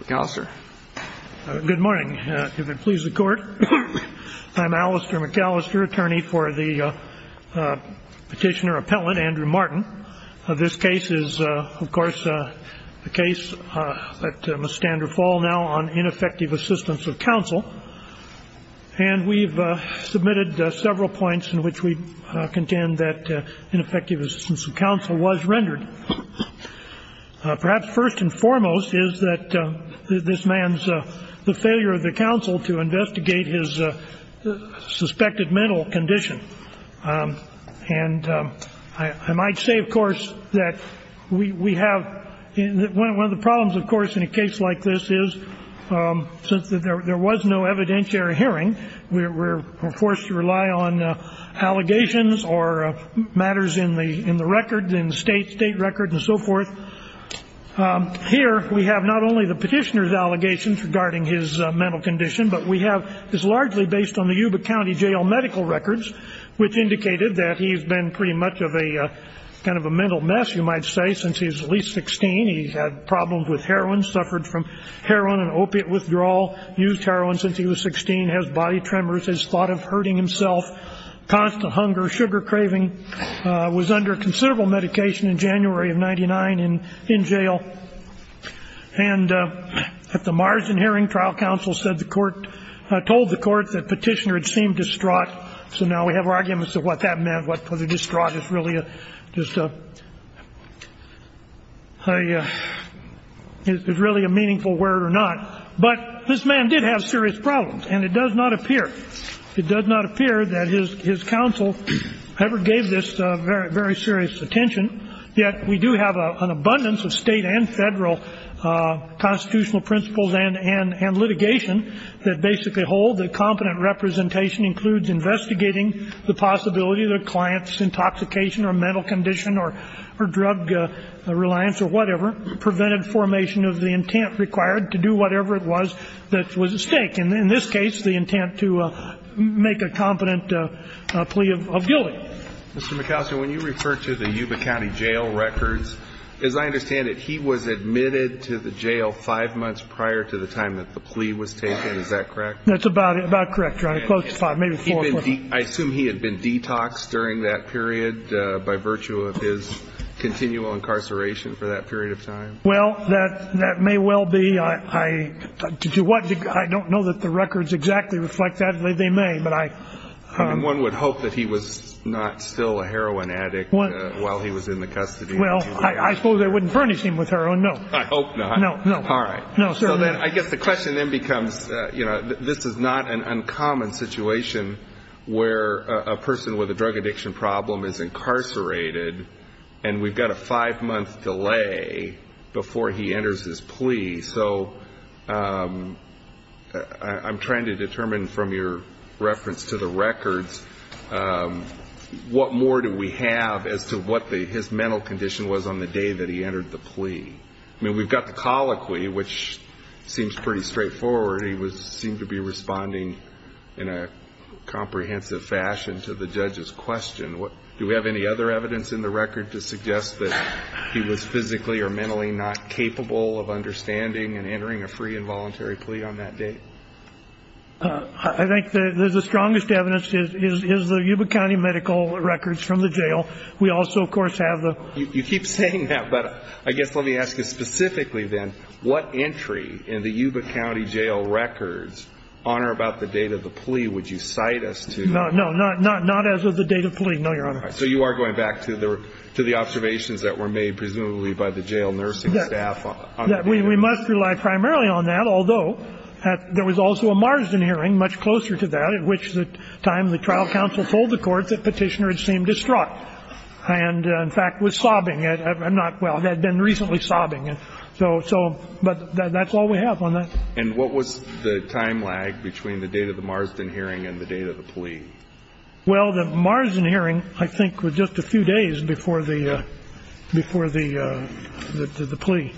McAllister. Good morning. If it pleases the court, I'm Alistair McAllister, attorney for the petitioner-appellant Andrew Martin. This case is, of course, a case that must stand or fall now on ineffective assistance of counsel. And we've submitted several points in which we contend that ineffective assistance of counsel was rendered. Perhaps first and foremost is that this man's failure of the counsel to investigate his suspected mental condition. And I might say, of course, that we have one of the problems, of course, in a case like this is since there was no evidentiary hearing, we're forced to rely on allegations or matters in the record, in the state record and so forth. Here we have not only the petitioner's allegations regarding his mental condition, but we have this largely based on the Yuba County Jail medical records, which indicated that he's been pretty much of a kind of a mental mess, you might say, since he was at least 16. He's had problems with heroin, suffered from heroin and opiate withdrawal, used heroin since he was 16, has body tremors, has thought of hurting himself, constant hunger, sugar craving, was under considerable medication in January of 99 in jail. And at the Marsden hearing, trial counsel said the court, told the court that petitioner had seemed distraught. So now we have arguments of what that meant, what the distraught is really just a, is really a meaningful word or not. But this man did have serious problems. And it does not appear, it does not appear that his counsel ever gave this very serious attention. Yet we do have an abundance of state and federal constitutional principles and litigation that basically hold that competent representation includes investigating the possibility that a client's intoxication or mental condition or drug reliance or whatever prevented formation of the intent required to do whatever it was that was at stake. And in this case, the intent to make a competent plea of guilty. Mr. McAlister, when you refer to the Yuba County jail records, as I understand it, he was admitted to the jail five months prior to the time that the plea was taken. Is that correct? That's about correct, Your Honor. Close to five, maybe four. I assume he had been detoxed during that period by virtue of his continual incarceration for that period of time. Well, that may well be. I don't know that the records exactly reflect that. They may, but I. I mean, one would hope that he was not still a heroin addict while he was in the custody. Well, I suppose I wouldn't furnish him with heroin, no. I hope not. No, no. All right. No, sir. I guess the question then becomes, you know, this is not an uncommon situation where a person with a drug addiction problem is incarcerated and we've got a five-month delay before he enters his plea. So I'm trying to determine from your reference to the records, what more do we have as to what his mental condition was on the day that he entered the plea? I mean, we've got the colloquy, which seems pretty straightforward. He seemed to be responding in a comprehensive fashion to the judge's question. Do we have any other evidence in the record to suggest that he was physically or mentally not capable of understanding and entering a free and voluntary plea on that day? I think the strongest evidence is the Yuba County medical records from the jail. We also, of course, have the... You keep saying that, but I guess let me ask you specifically then, what entry in the Yuba County jail records on or about the date of the plea would you cite us to? No, no. Not as of the date of plea. No, Your Honor. All right. So you are going back to the observations that were made presumably by the jail nursing staff on the day that he... We must rely primarily on that, although there was also a Marston hearing much closer to that at which time the trial counsel told the court that Petitioner had seemed distraught and, in fact, was sobbing. Well, had been recently sobbing. But that's all we have on that. And what was the time lag between the date of the Marston hearing and the date of the plea? Well, the Marston hearing, I think, was just a few days before the plea.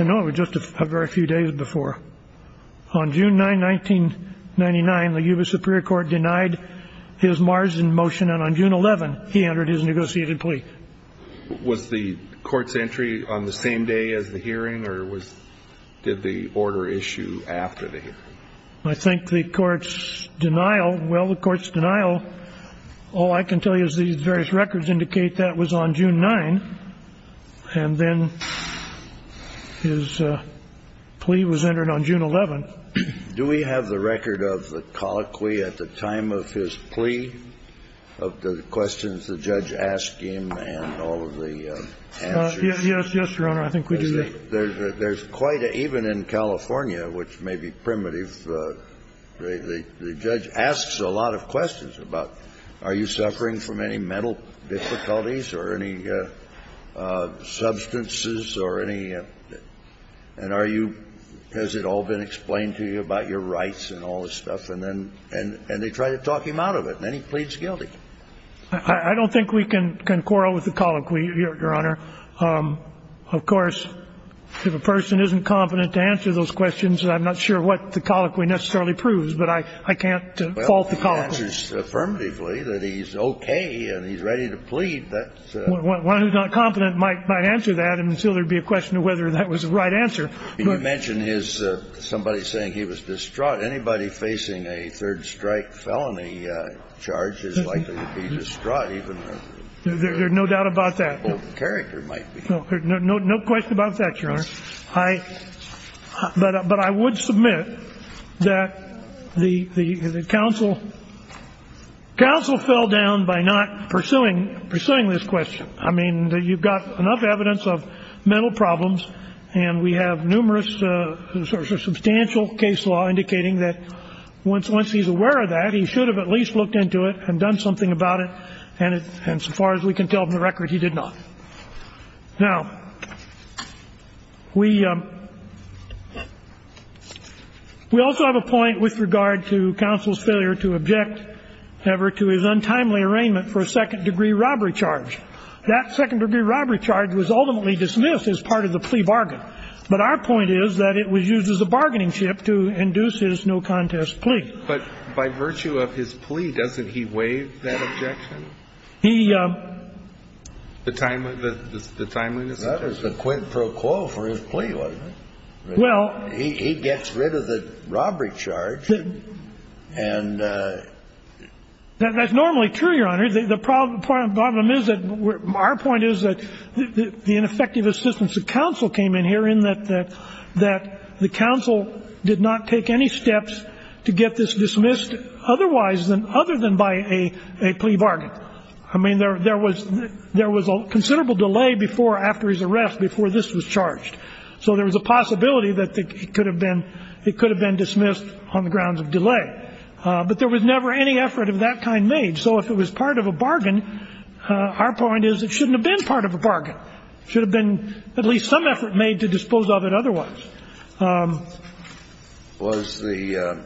I know it was just a very few days before. On June 9, 1999, the Yuba Superior Court denied his Marston motion, and on June 11, he entered his negotiated plea. Was the court's entry on the same day as the hearing, or did the order issue after the hearing? I think the court's denial... Well, the court's denial, all I can tell you is these various records indicate that was on June 9, and then his plea was entered on June 11. Do we have the record of the colloquy at the time of his plea of the questions the judge asked him and all of the answers? Yes. Yes, Your Honor. I think we do. There's quite a – even in California, which may be primitive, the judge asks a lot of questions about are you suffering from any mental difficulties or any substances or any – and are you – has it all been explained to you about your rights and all this stuff? And they try to talk him out of it, and then he pleads guilty. I don't think we can quarrel with the colloquy, Your Honor. Of course, if a person isn't confident to answer those questions, I'm not sure what the colloquy necessarily proves, but I can't fault the colloquy. Well, he answers affirmatively that he's okay and he's ready to plead. One who's not confident might answer that until there'd be a question of whether that was the right answer. You mentioned his – somebody saying he was distraught. Anybody facing a third-strike felony charge is likely to be distraught, even though – There's no doubt about that. No question about that, Your Honor. But I would submit that the counsel fell down by not pursuing this question. I mean, you've got enough evidence of mental problems, and we have numerous substantial case law indicating that once he's aware of that, he should have at least looked into it and done something about it, and so far as we can tell from the record, he did not. Now, we also have a point with regard to counsel's failure to object ever to his untimely arraignment for a second-degree robbery charge. That second-degree robbery charge was ultimately dismissed as part of the plea bargain. But our point is that it was used as a bargaining chip to induce his no-contest plea. But by virtue of his plea, doesn't he waive that objection? He – The timeliness of it? That was the quid pro quo for his plea, wasn't it? Well – He gets rid of the robbery charge, and – That's normally true, Your Honor. The problem is that – our point is that the ineffective assistance of counsel came in here that the counsel did not take any steps to get this dismissed otherwise than – other than by a plea bargain. I mean, there was a considerable delay before – after his arrest, before this was charged. So there was a possibility that it could have been dismissed on the grounds of delay. But there was never any effort of that kind made. So if it was part of a bargain, our point is it shouldn't have been part of a bargain. It should have been – at least some effort made to dispose of it otherwise. Was the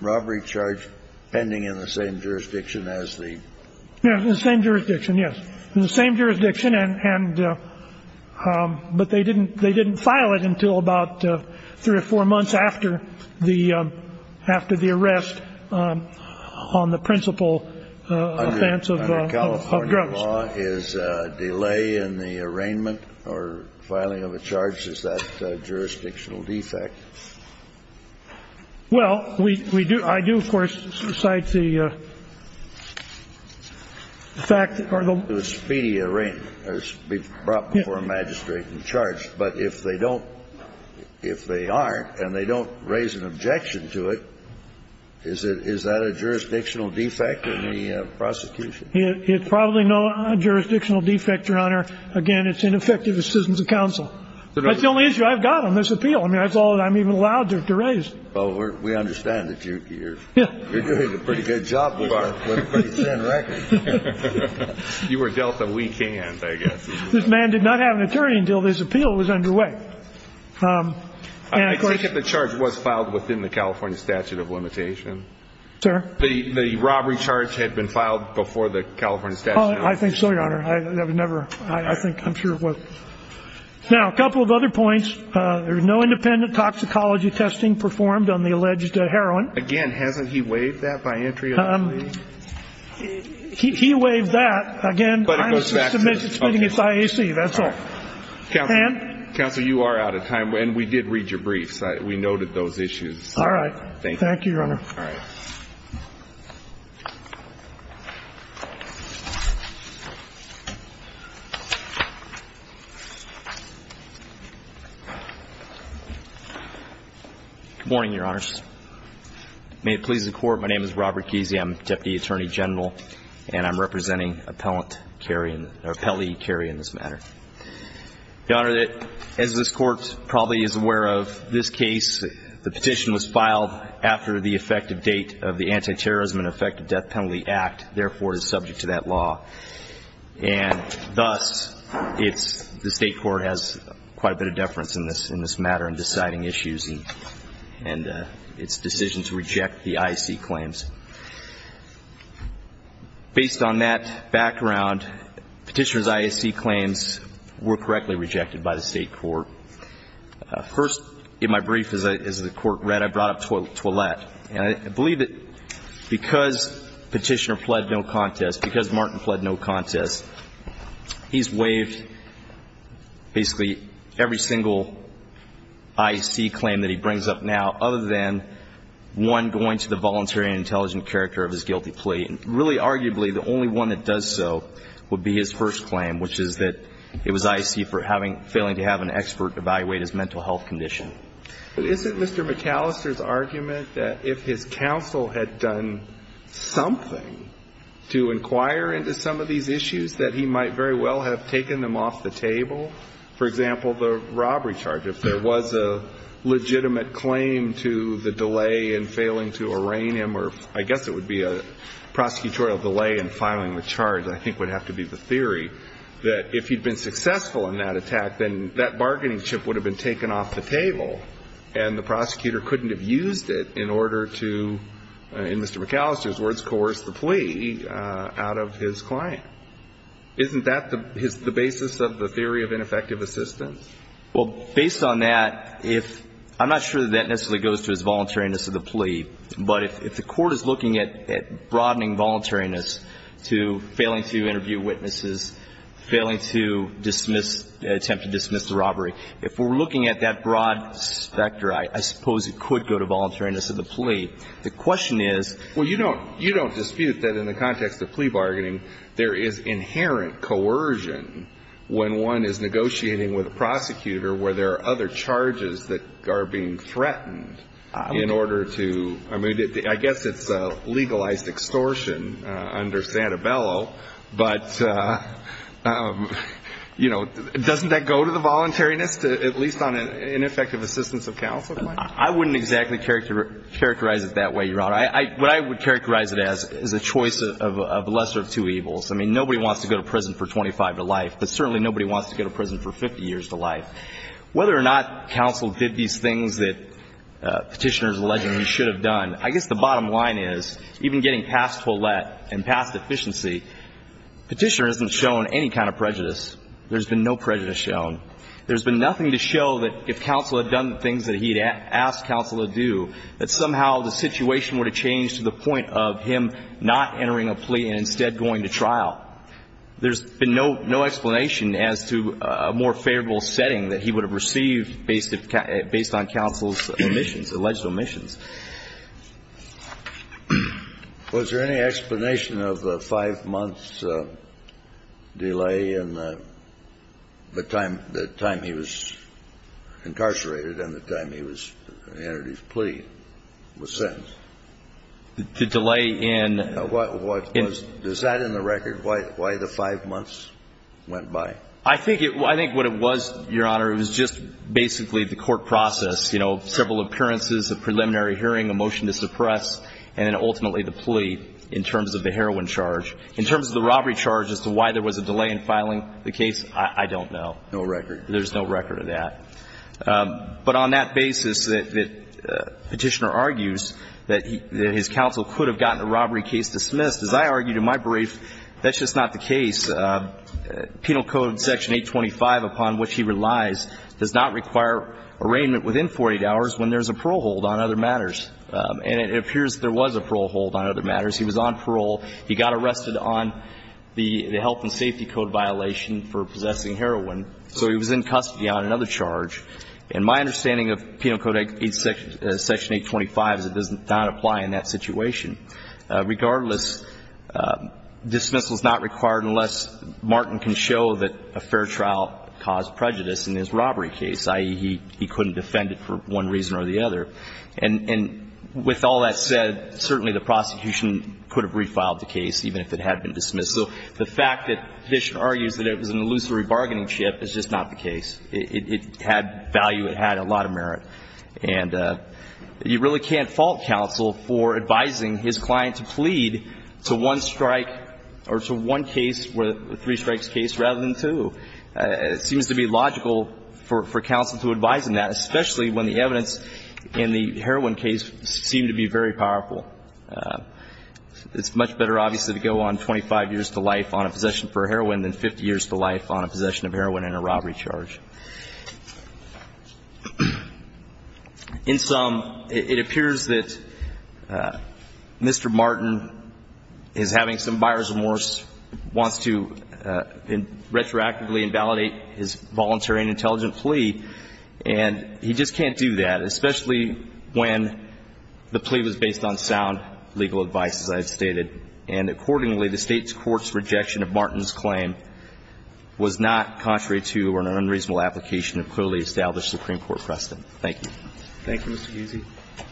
robbery charge pending in the same jurisdiction as the – Yes, in the same jurisdiction, yes. In the same jurisdiction, and – but they didn't file it until about three or four months after the – after the arrest on the principal offense of drugs. If the law is delay in the arraignment or filing of a charge, is that a jurisdictional defect? Well, we do – I do, of course, cite the fact that – The speedy arraignment, or brought before a magistrate and charged. But if they don't – if they aren't, and they don't raise an objection to it, is it – is that a jurisdictional defect in the prosecution? It's probably no jurisdictional defect, Your Honor. Again, it's ineffective assistance of counsel. That's the only issue I've got on this appeal. I mean, that's all I'm even allowed to raise. Well, we understand that you're – Yeah. You're doing a pretty good job with our pretty thin record. You were dealt a weak hand, I guess. This man did not have an attorney until this appeal was underway. And of course – I take it the charge was filed within the California statute of limitation? Sir? The robbery charge had been filed before the California statute of limitation. I think so, Your Honor. I never – I think – I'm sure it was. Now, a couple of other points. There was no independent toxicology testing performed on the alleged heroin. Again, hasn't he waived that by entry of the plea? He waived that. Again, I'm submitting it to IAC. That's all. Counsel, you are out of time. We noted those issues. All right. Thank you, Your Honor. All right. Good morning, Your Honors. May it please the Court, my name is Robert Kesey. I'm the Deputy Attorney General, and I'm representing Appellee Kerry in this matter. Your Honor, as this Court probably is aware of this case, the petition was filed after the effective date of the Anti-Terrorism and Effective Death Penalty Act, therefore, it is subject to that law. And thus, it's – the State Court has quite a bit of deference in this matter in deciding issues and its decision to reject the IAC claims. Based on that background, Petitioner's IAC claims were correctly rejected by the State Court. First, in my brief, as the Court read, I brought up Toilette. And I believe that because Petitioner pled no contest, because Martin pled no contest, he's waived basically every single IAC claim that he brings up now, other than one going to the voluntary and intelligent character of his guilty plea. And really, arguably, the only one that does so would be his first claim, which is that it was IAC for having – failing to have an expert evaluate his mental health condition. Isn't Mr. McAllister's argument that if his counsel had done something to inquire into some of these issues, that he might very well have taken them off the table? For example, the robbery charge. If there was a legitimate claim to the delay in failing to arraign him, or I guess it would be a prosecutorial delay in filing the charge, I think would have to be the theory, that if he'd been successful in that attack, then that bargaining chip would have been taken off the table and the prosecutor couldn't have used it in order to, in Mr. McAllister's words, coerce the plea out of his client. Isn't that the basis of the theory of ineffective assistance? Well, based on that, if – I'm not sure that that necessarily goes to his voluntariness of the plea, but if the court is looking at broadening voluntariness to failing to interview witnesses, failing to dismiss – attempt to dismiss the robbery, if we're looking at that broad specter, I suppose it could go to voluntariness of the plea. The question is – Well, you don't – you don't dispute that in the context of plea bargaining, there is inherent coercion when one is negotiating with a prosecutor where there are other I mean, I guess it's legalized extortion under Santabello, but, you know, doesn't that go to the voluntariness, at least on ineffective assistance of counsel? I wouldn't exactly characterize it that way, Your Honor. What I would characterize it as is a choice of lesser of two evils. I mean, nobody wants to go to prison for 25 to life, but certainly nobody wants to go to prison for 50 years to life. Whether or not counsel did these things that Petitioner is alleging he should have done, I guess the bottom line is, even getting past Follett and past efficiency, Petitioner hasn't shown any kind of prejudice. There's been no prejudice shown. There's been nothing to show that if counsel had done the things that he had asked counsel to do, that somehow the situation would have changed to the point of him not entering a plea and instead going to trial. There's been no explanation as to a more favorable setting that he would have received based on counsel's omissions, alleged omissions. Was there any explanation of the five-month delay in the time he was incarcerated and the time he entered his plea was sent? The delay in the... Is that in the record, why the five months went by? I think what it was, Your Honor, it was just basically the court process, you know, several appearances, a preliminary hearing, a motion to suppress, and then ultimately the plea in terms of the heroin charge. In terms of the robbery charge as to why there was a delay in filing the case, I don't know. No record. There's no record of that. But on that basis that Petitioner argues that his counsel could have gotten a robbery case dismissed, as I argued in my brief, that's just not the case. Penal Code Section 825, upon which he relies, does not require arraignment within 48 hours when there's a parole hold on other matters. And it appears there was a parole hold on other matters. He was on parole. He got arrested on the health and safety code violation for possessing heroin. So he was in custody on another charge. And my understanding of Penal Code Section 825 is it does not apply in that situation. Regardless, dismissal is not required unless Martin can show that a fair trial caused prejudice in his robbery case, i.e., he couldn't defend it for one reason or the other. And with all that said, certainly the prosecution could have refiled the case, even if it had been dismissed. So the fact that Petitioner argues that it was an illusory bargaining chip is just not the case. It had value. It had a lot of merit. And you really can't fault counsel for advising his client to plead to one strike or to one case, a three-strikes case, rather than two. It seems to be logical for counsel to advise in that, especially when the evidence in the heroin case seemed to be very powerful. It's much better, obviously, to go on 25 years to life on a possession for heroin than 50 years to life on a possession of heroin and a robbery charge. In sum, it appears that Mr. Martin is having some buyers' remorse, wants to retroactively invalidate his voluntary and intelligent plea, and he just can't do that, especially when the plea was based on sound legal advice, as I have stated. And accordingly, the State's court's rejection of Martin's claim was not contrary to or an unreasonable application of clearly established Supreme Court precedent. Thank you. Thank you, Mr. Guzzi.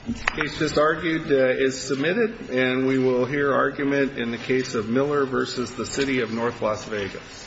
The case just argued is submitted, and we will hear argument in the case of Miller v. The City of North Las Vegas. Thank you.